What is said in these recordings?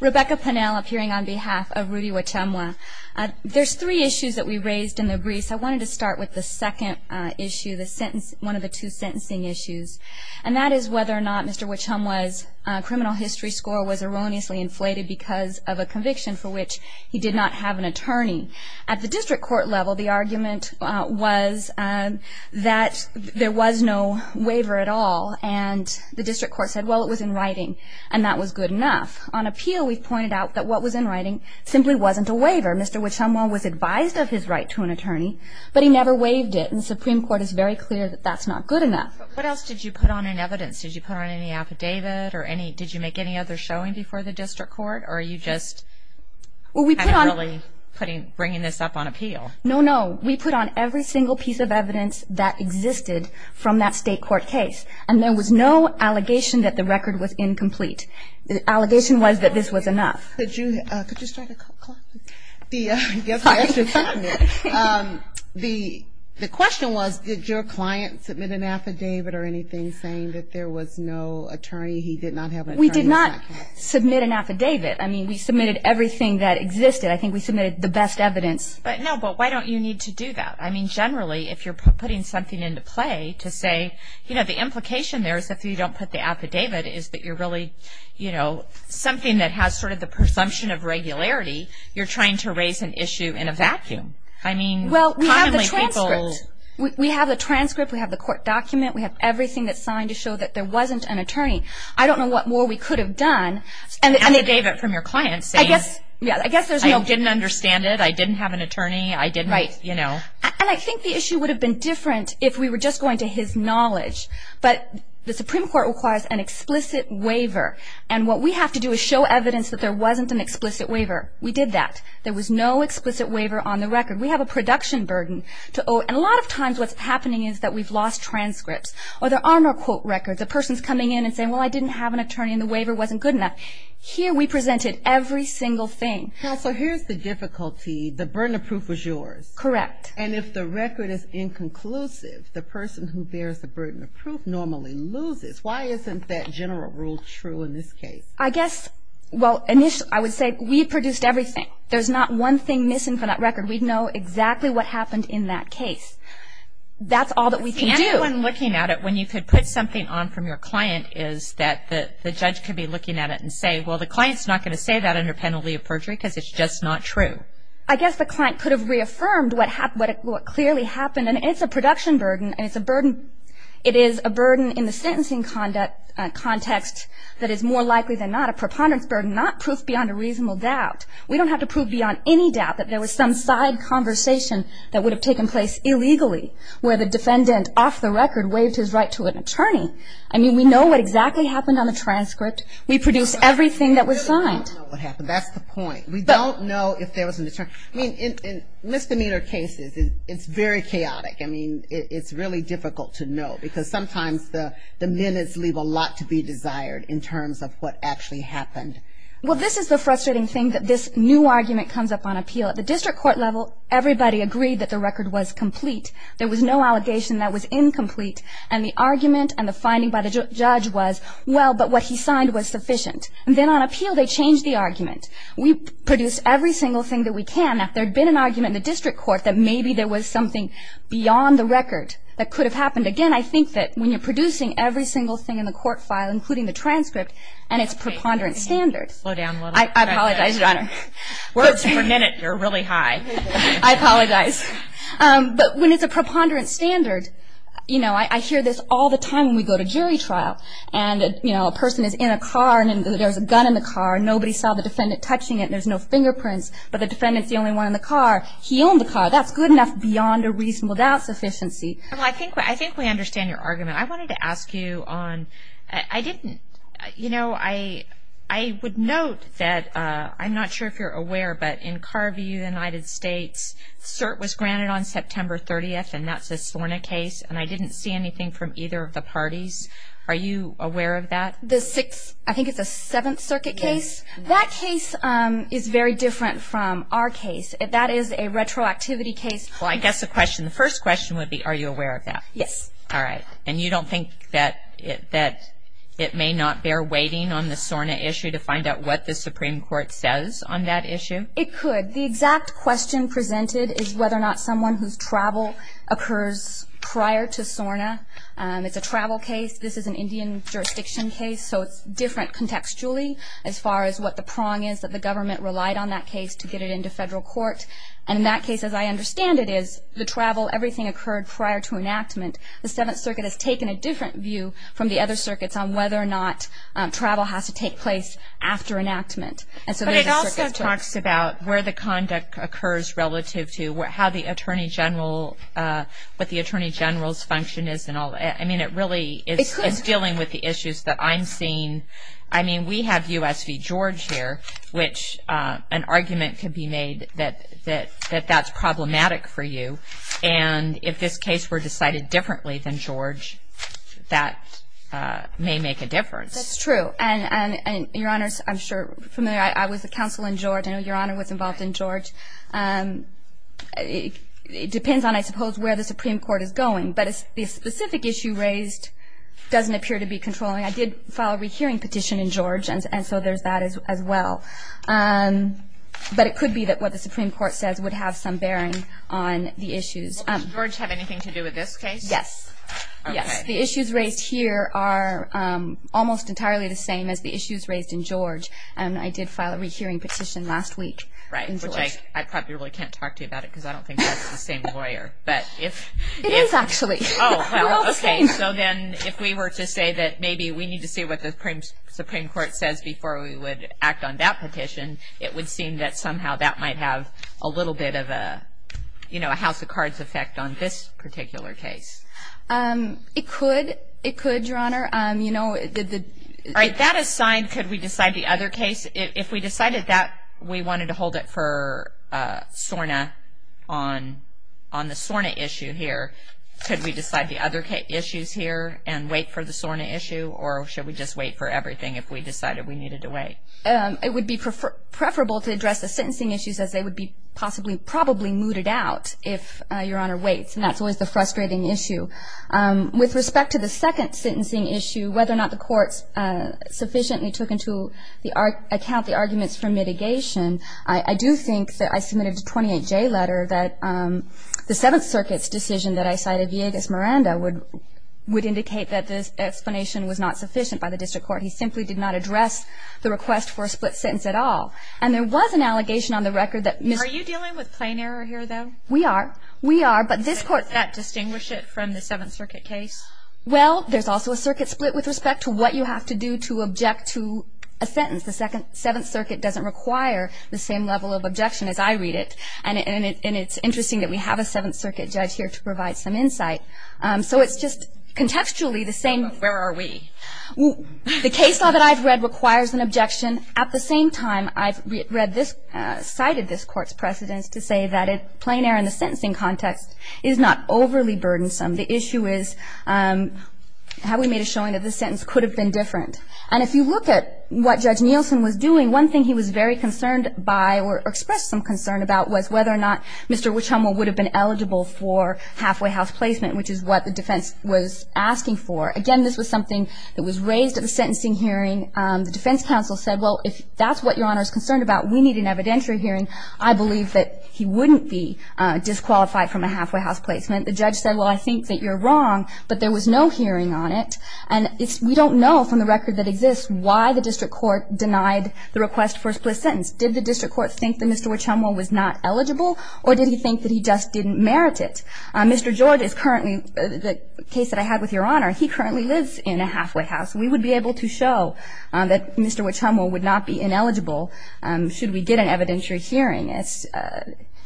Rebecca Pennell appearing on behalf of Rudy Wahchumwah. There's three issues that we raised in the briefs. I wanted to start with the second issue, one of the two sentencing issues, and that is whether or not Mr. Wahchumwah's criminal history score was erroneously inflated because of a conviction for which he did not have an attorney. At the district court level, the argument was that there was no waiver at all, and the district court said, well, it was in writing and that was good enough. On appeal, we've pointed out that what was in writing simply wasn't a waiver. Mr. Wahchumwah was advised of his right to an attorney, but he never waived it, and the Supreme Court is very clear that that's not good enough. What else did you put on in evidence? Did you put on any affidavit or did you make any other showing before the district court, or are you just kind of really bringing this up on appeal? No, no. We put on every single piece of evidence that existed from that state court case, and there was no allegation that the record was incomplete. The allegation was that this was enough. Could you start the clock? The question was, did your client submit an affidavit or anything saying that there was no attorney? He did not have an attorney. We did not submit an affidavit. I mean, we submitted everything that existed. I think we submitted the best evidence. No, but why don't you need to do that? I mean, the implication there is if you don't put the affidavit is that you're really, you know, something that has sort of the presumption of regularity. You're trying to raise an issue in a vacuum. I mean, commonly people. Well, we have the transcript. We have the transcript. We have the court document. We have everything that's signed to show that there wasn't an attorney. I don't know what more we could have done. An affidavit from your client saying I didn't understand it, I didn't have an attorney, I didn't, you know. And I think the issue would have been different if we were just going to his knowledge. But the Supreme Court requires an explicit waiver. And what we have to do is show evidence that there wasn't an explicit waiver. We did that. There was no explicit waiver on the record. We have a production burden. And a lot of times what's happening is that we've lost transcripts. Or there are no quote records. A person's coming in and saying, well, I didn't have an attorney and the waiver wasn't good enough. Here we presented every single thing. Now, so here's the difficulty. The burden of proof was yours. Correct. And if the record is inconclusive, the person who bears the burden of proof normally loses. Why isn't that general rule true in this case? I guess, well, I would say we produced everything. There's not one thing missing from that record. We know exactly what happened in that case. That's all that we can do. The only one looking at it when you could put something on from your client is that the judge could be looking at it and say, well, the client's not going to say that under penalty of perjury because it's just not true. I guess the client could have reaffirmed what clearly happened. And it's a production burden and it's a burden. It is a burden in the sentencing context that is more likely than not a preponderance burden, not proof beyond a reasonable doubt. We don't have to prove beyond any doubt that there was some side conversation that would have taken place illegally where the defendant off the record waived his right to an attorney. I mean, we know what exactly happened on the transcript. We produced everything that was signed. That's the point. We don't know if there was an attorney. I mean, in misdemeanor cases, it's very chaotic. I mean, it's really difficult to know because sometimes the minutes leave a lot to be desired in terms of what actually happened. Well, this is the frustrating thing that this new argument comes up on appeal. At the district court level, everybody agreed that the record was complete. There was no allegation that was incomplete. And the argument and the finding by the judge was, well, but what he signed was sufficient. And then on appeal, they changed the argument. We produced every single thing that we can. Now, if there had been an argument in the district court that maybe there was something beyond the record that could have happened, again, I think that when you're producing every single thing in the court file, including the transcript, and it's a preponderance standard. I apologize, Your Honor. Words per minute are really high. I apologize. But when it's a preponderance standard, you know, I hear this all the time when we go to jury trial. And, you know, a person is in a car and there's a gun in the car. Nobody saw the defendant touching it. There's no fingerprints. But the defendant's the only one in the car. He owned the car. That's good enough beyond a reasonable doubt sufficiency. Well, I think we understand your argument. I wanted to ask you on – I didn't – you know, I would note that – I'm not sure if you're aware, but in Carview, United States, cert was granted on September 30th, and that's a SORNA case. And I didn't see anything from either of the parties. Are you aware of that? The sixth – I think it's a Seventh Circuit case. That case is very different from our case. That is a retroactivity case. Well, I guess the question – the first question would be, are you aware of that? Yes. All right. And you don't think that it may not bear waiting on the SORNA issue to find out what the Supreme Court says on that issue? It could. The exact question presented is whether or not someone whose travel occurs prior to SORNA. It's a travel case. This is an Indian jurisdiction case, so it's different contextually as far as what the prong is that the government relied on that case to get it into federal court. And in that case, as I understand it, is the travel, everything occurred prior to enactment. The Seventh Circuit has taken a different view from the other circuits on whether or not travel has to take place after enactment. But it also talks about where the conduct occurs relative to how the Attorney General – what the Attorney General's function is and all that. I mean, it really is dealing with the issues that I'm seeing. I mean, we have U.S. v. George here, which an argument could be made that that's problematic for you. And if this case were decided differently than George, that may make a difference. That's true. And, Your Honors, I'm sure you're familiar. I was a counsel in George. I know Your Honor was involved in George. It depends on, I suppose, where the Supreme Court is going. But the specific issue raised doesn't appear to be controlling. I did file a rehearing petition in George, and so there's that as well. But it could be that what the Supreme Court says would have some bearing on the issues. Does George have anything to do with this case? Yes. Yes. The issues raised here are almost entirely the same as the issues raised in George. And I did file a rehearing petition last week in George. Right, which I probably can't talk to you about it because I don't think that's the same lawyer. It is, actually. Oh, well, okay. So then if we were to say that maybe we need to see what the Supreme Court says before we would act on that petition, it would seem that somehow that might have a little bit of a house of cards effect on this particular case. It could. It could, Your Honor. All right. That aside, could we decide the other case? If we decided that we wanted to hold it for SORNA on the SORNA issue here, could we decide the other issues here and wait for the SORNA issue, or should we just wait for everything if we decided we needed to wait? It would be preferable to address the sentencing issues as they would be possibly, probably mooted out if Your Honor waits, and that's always the frustrating issue. With respect to the second sentencing issue, whether or not the courts sufficiently took into account the arguments for mitigation, I do think that I submitted a 28J letter that the Seventh Circuit's decision that I cited, Villegas-Miranda, would indicate that this explanation was not sufficient by the district court. He simply did not address the request for a split sentence at all. And there was an allegation on the record that Ms. Are you dealing with plain error here, though? We are. We are. Does that distinguish it from the Seventh Circuit case? Well, there's also a circuit split with respect to what you have to do to object to a sentence. The Seventh Circuit doesn't require the same level of objection as I read it, and it's interesting that we have a Seventh Circuit judge here to provide some insight. So it's just contextually the same. Where are we? The case law that I've read requires an objection. At the same time, I've read this, cited this Court's precedence to say that plain error in the sentencing context is not overly burdensome. The issue is how we made a showing that this sentence could have been different. And if you look at what Judge Nielsen was doing, one thing he was very concerned by or expressed some concern about was whether or not Mr. Wichomo would have been eligible for halfway house placement, which is what the defense was asking for. Again, this was something that was raised at the sentencing hearing. The defense counsel said, well, if that's what Your Honor is concerned about, we need an evidentiary hearing. I believe that he wouldn't be disqualified from a halfway house placement. The judge said, well, I think that you're wrong, but there was no hearing on it. And we don't know from the record that exists why the district court denied the request for a split sentence. Did the district court think that Mr. Wichomo was not eligible, or did he think that he just didn't merit it? Mr. George is currently the case that I had with Your Honor. He currently lives in a halfway house. We would be able to show that Mr. Wichomo would not be ineligible should we get an evidentiary hearing.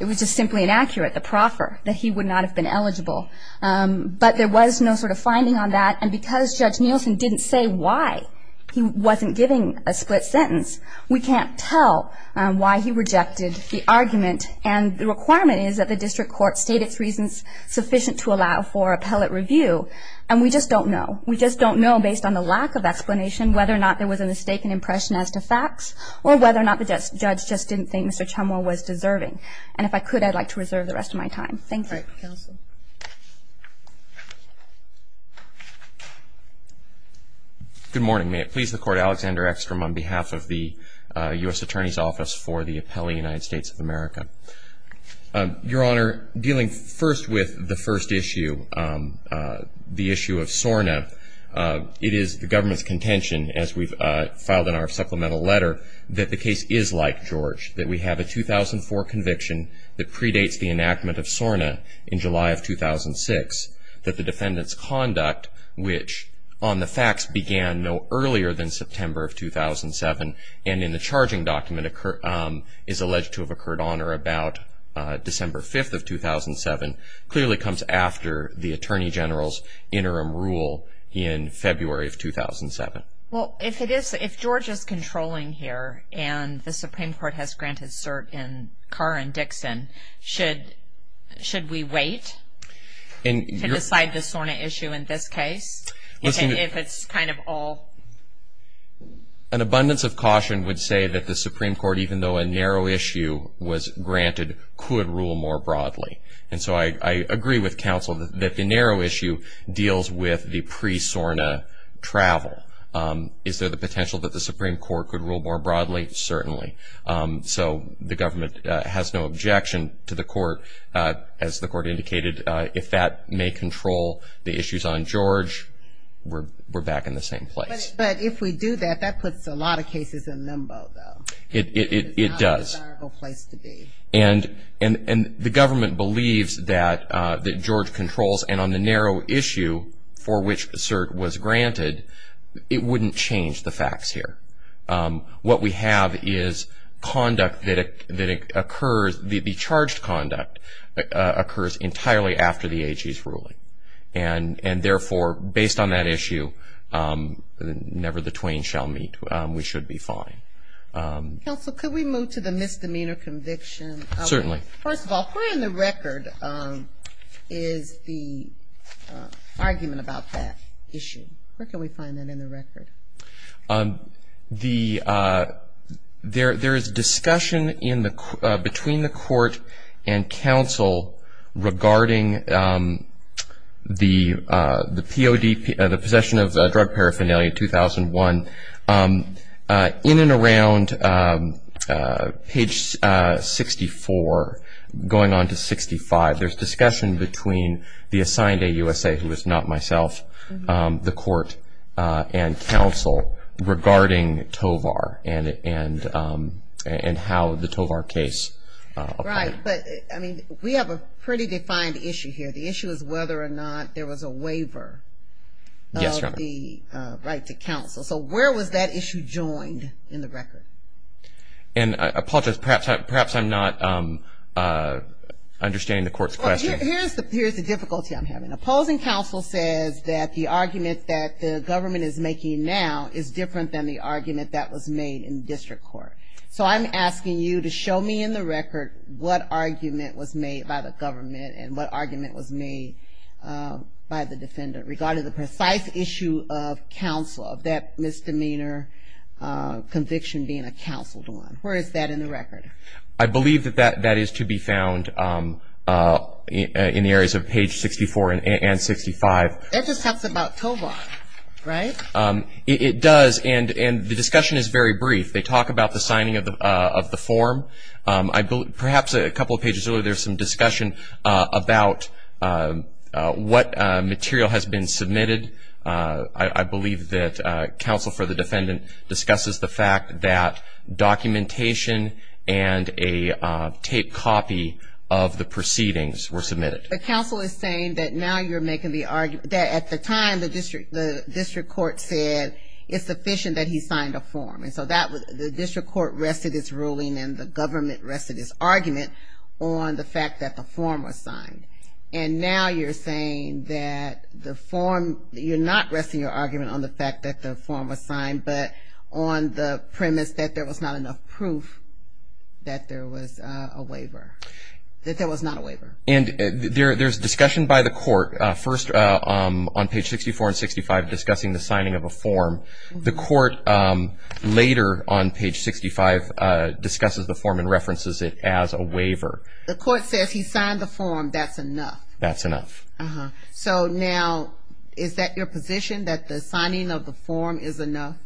It was just simply inaccurate, the proffer, that he would not have been eligible. But there was no sort of finding on that, and because Judge Nielsen didn't say why he wasn't giving a split sentence, we can't tell why he rejected the argument. And the requirement is that the district court state its reasons sufficient to allow for appellate review, and we just don't know. We just don't know, based on the lack of explanation, whether or not there was a mistaken impression as to facts, or whether or not the judge just didn't think Mr. Wichomo was deserving. And if I could, I'd like to reserve the rest of my time. Thank you. Thank you, counsel. Good morning. May it please the Court, Alexander Eckstrom on behalf of the U.S. Attorney's Office for the Appellee United States of America. Your Honor, dealing first with the first issue, the issue of SORNA, it is the government's contention, as we've filed in our supplemental letter, that the case is like George, that we have a 2004 conviction that predates the enactment of SORNA in July of 2006, that the defendant's conduct, which on the facts began no earlier than September of 2007, and in the charging document is alleged to have occurred on or about December 5th of 2007, clearly comes after the Attorney General's interim rule in February of 2007. Well, if George is controlling here, and the Supreme Court has granted cert in Carr and Dixon, should we wait to decide the SORNA issue in this case? An abundance of caution would say that the Supreme Court, even though a narrow issue was granted, could rule more broadly. And so I agree with counsel that the narrow issue deals with the pre-SORNA travel. Is there the potential that the Supreme Court could rule more broadly? Certainly. So the government has no objection to the Court, as the Court indicated, if that may control the issues on George, we're back in the same place. But if we do that, that puts a lot of cases in limbo, though. It does. It's not a desirable place to be. And the government believes that George controls, and on the narrow issue for which cert was granted, it wouldn't change the facts here. What we have is conduct that occurs, the charged conduct occurs entirely after the AG's ruling. And therefore, based on that issue, never the twain shall meet. We should be fine. Counsel, could we move to the misdemeanor conviction? Certainly. First of all, where in the record is the argument about that issue? Where can we find that in the record? There is discussion between the Court and counsel regarding the POD, the possession of drug paraphernalia, 2001, in and around page 64 going on to 65. There's discussion between the assigned AUSA, who is not myself, the Court, and counsel regarding Tovar and how the Tovar case applies. Right. But, I mean, we have a pretty defined issue here. The issue is whether or not there was a waiver of the right to counsel. Yes, Your Honor. So where was that issue joined in the record? And I apologize, perhaps I'm not understanding the Court's question. Here's the difficulty I'm having. Opposing counsel says that the argument that the government is making now is different than the argument that was made in district court. So I'm asking you to show me in the record what argument was made by the government and what argument was made by the defendant regarding the precise issue of counsel, of that misdemeanor conviction being a counseled one. Where is that in the record? I believe that that is to be found in the areas of page 64 and 65. That just talks about Tovar, right? It does, and the discussion is very brief. They talk about the signing of the form. Perhaps a couple of pages earlier there was some discussion about what material has been submitted. I believe that counsel for the defendant discusses the fact that documentation and a taped copy of the proceedings were submitted. But counsel is saying that now you're making the argument that at the time the district court said it's sufficient that he signed a form. And so the district court rested its ruling and the government rested its argument on the fact that the form was signed. And now you're saying that the form, you're not resting your argument on the fact that the form was signed, but on the premise that there was not enough proof that there was a waiver, that there was not a waiver. And there's discussion by the court first on page 64 and 65 discussing the signing of a form. The court later on page 65 discusses the form and references it as a waiver. The court says he signed the form. That's enough. That's enough. So now is that your position, that the signing of the form is enough?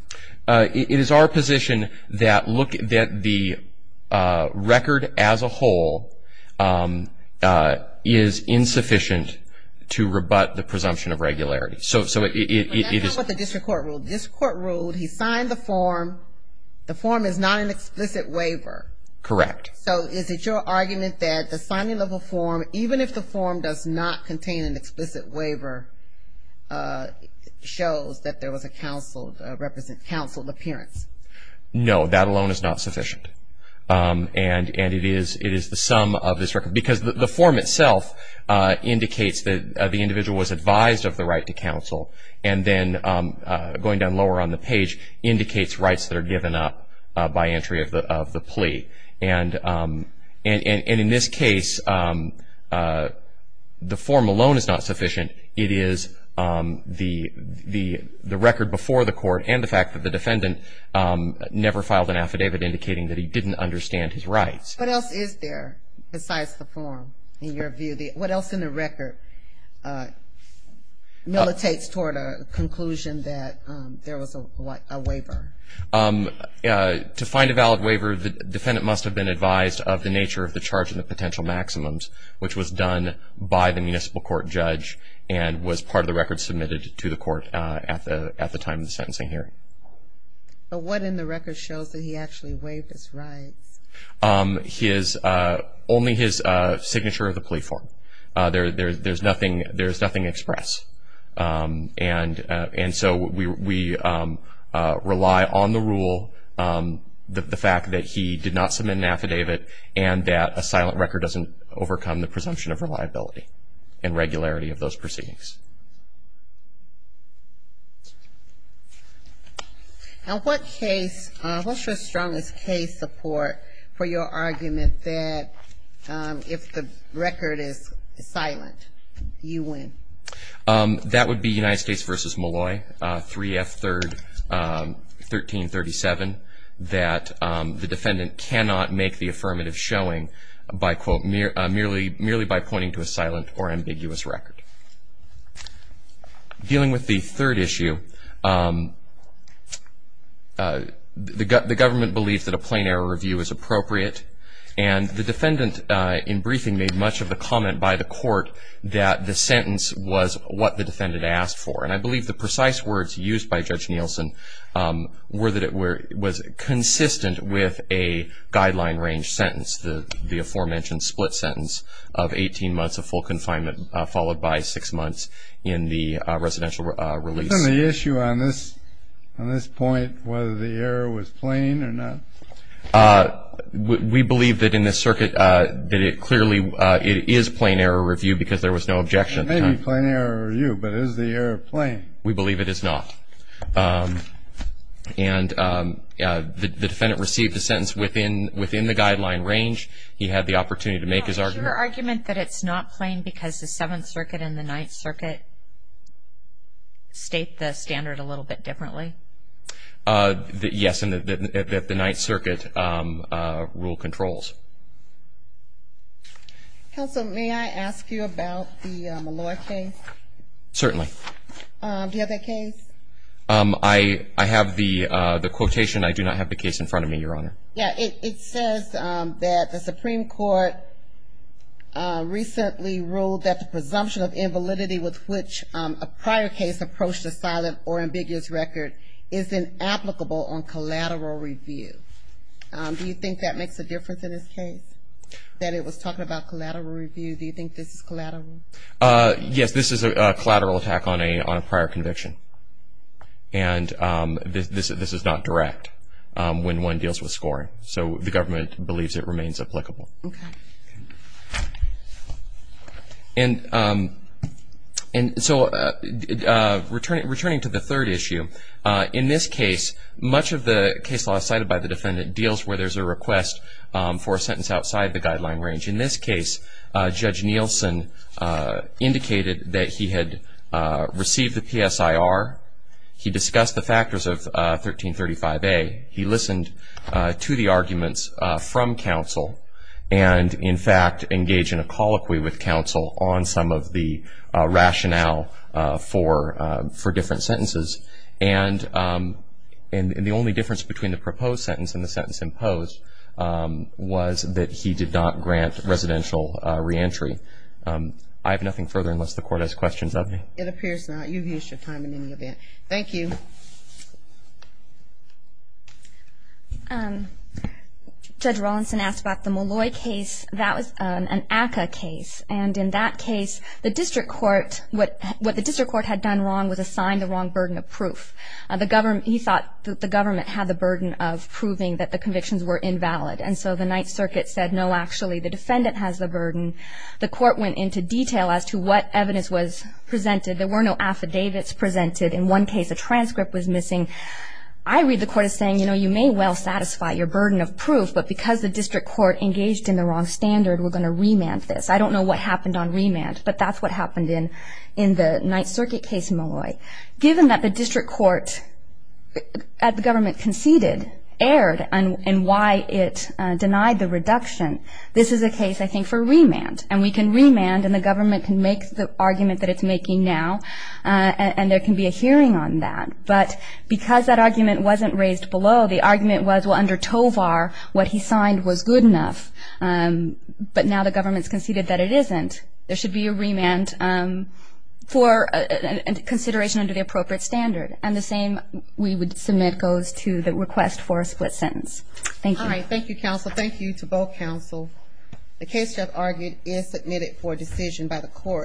It is our position that the record as a whole is insufficient to rebut the presumption of regularity. So it is. But that's not what the district court ruled. The district court ruled he signed the form. The form is not an explicit waiver. Correct. So is it your argument that the signing of a form, even if the form does not contain an explicit waiver, shows that there was a counseled appearance? No, that alone is not sufficient. And it is the sum of this record, because the form itself indicates that the individual was advised of the right to counsel, and then going down lower on the page indicates rights that are given up by entry of the plea. And in this case, the form alone is not sufficient. It is the record before the court and the fact that the defendant never filed an affidavit indicating that he didn't understand his rights. What else is there besides the form in your view? What else in the record militates toward a conclusion that there was a waiver? To find a valid waiver, the defendant must have been advised of the nature of the charge and the potential maximums, which was done by the municipal court judge and was part of the record submitted to the court at the time of the sentencing hearing. But what in the record shows that he actually waived his rights? Only his signature of the plea form. There is nothing expressed. And so we rely on the rule, the fact that he did not submit an affidavit, and that a silent record doesn't overcome the presumption of reliability and regularity of those proceedings. Now, what case, what's your strongest case support for your argument that if the record is silent, you win? That would be United States v. Molloy, 3F 3rd, 1337, that the defendant cannot make the affirmative showing by, quote, merely by pointing to a silent or ambiguous record. Dealing with the third issue, the government believes that a plain error review is appropriate, and the defendant in briefing made much of the comment by the court that the sentence was what the defendant asked for. And I believe the precise words used by Judge Nielsen were that it was consistent with a guideline range sentence, the aforementioned split sentence of 18 months of full confinement, followed by six months in the residential release. Isn't the issue on this point whether the error was plain or not? We believe that in this circuit that it clearly is plain error review because there was no objection at the time. It may be plain error review, but is the error plain? We believe it is not. And the defendant received the sentence within the guideline range. He had the opportunity to make his argument. Is your argument that it's not plain because the Seventh Circuit and the Ninth Circuit state the standard a little bit differently? Yes, and that the Ninth Circuit rule controls. Counsel, may I ask you about the Molloy case? Certainly. Do you have that case? I have the quotation. I do not have the case in front of me, Your Honor. Yeah, it says that the Supreme Court recently ruled that the presumption of invalidity with which a prior case approached a silent or ambiguous record is inapplicable on collateral review. Do you think that makes a difference in this case, that it was talking about collateral review? Do you think this is collateral? Yes, this is a collateral attack on a prior conviction. And this is not direct when one deals with scoring. So the government believes it remains applicable. And so returning to the third issue, in this case, much of the case law cited by the defendant deals where there's a request for a sentence outside the guideline range. In this case, Judge Nielsen indicated that he had received the PSIR. He discussed the factors of 1335A. He listened to the arguments from counsel and, in fact, engaged in a colloquy with counsel on some of the rationale for different sentences. And the only difference between the proposed sentence and the sentence imposed was that he did not grant residential reentry. I have nothing further unless the Court has questions of me. It appears not. You've used your time in any event. Thank you. Judge Rawlinson asked about the Molloy case. That was an ACCA case. And in that case, what the district court had done wrong was assign the wrong burden of proof. He thought that the government had the burden of proving that the convictions were invalid. And so the Ninth Circuit said, no, actually, the defendant has the burden. The court went into detail as to what evidence was presented. There were no affidavits presented. In one case, a transcript was missing. I read the court as saying, you know, you may well satisfy your burden of proof, but because the district court engaged in the wrong standard, we're going to remand this. I don't know what happened on remand, but that's what happened in the Ninth Circuit case, Molloy. Given that the district court at the government conceded, erred in why it denied the reduction, this is a case, I think, for remand. And we can remand, and the government can make the argument that it's making now, and there can be a hearing on that. But because that argument wasn't raised below, the argument was, well, under Tovar, what he signed was good enough. But now the government's conceded that it isn't. There should be a remand for consideration under the appropriate standard. And the same we would submit goes to the request for a split sentence. Thank you. All right, thank you, counsel. Thank you to both counsel. The case you have argued is submitted for decision by the court.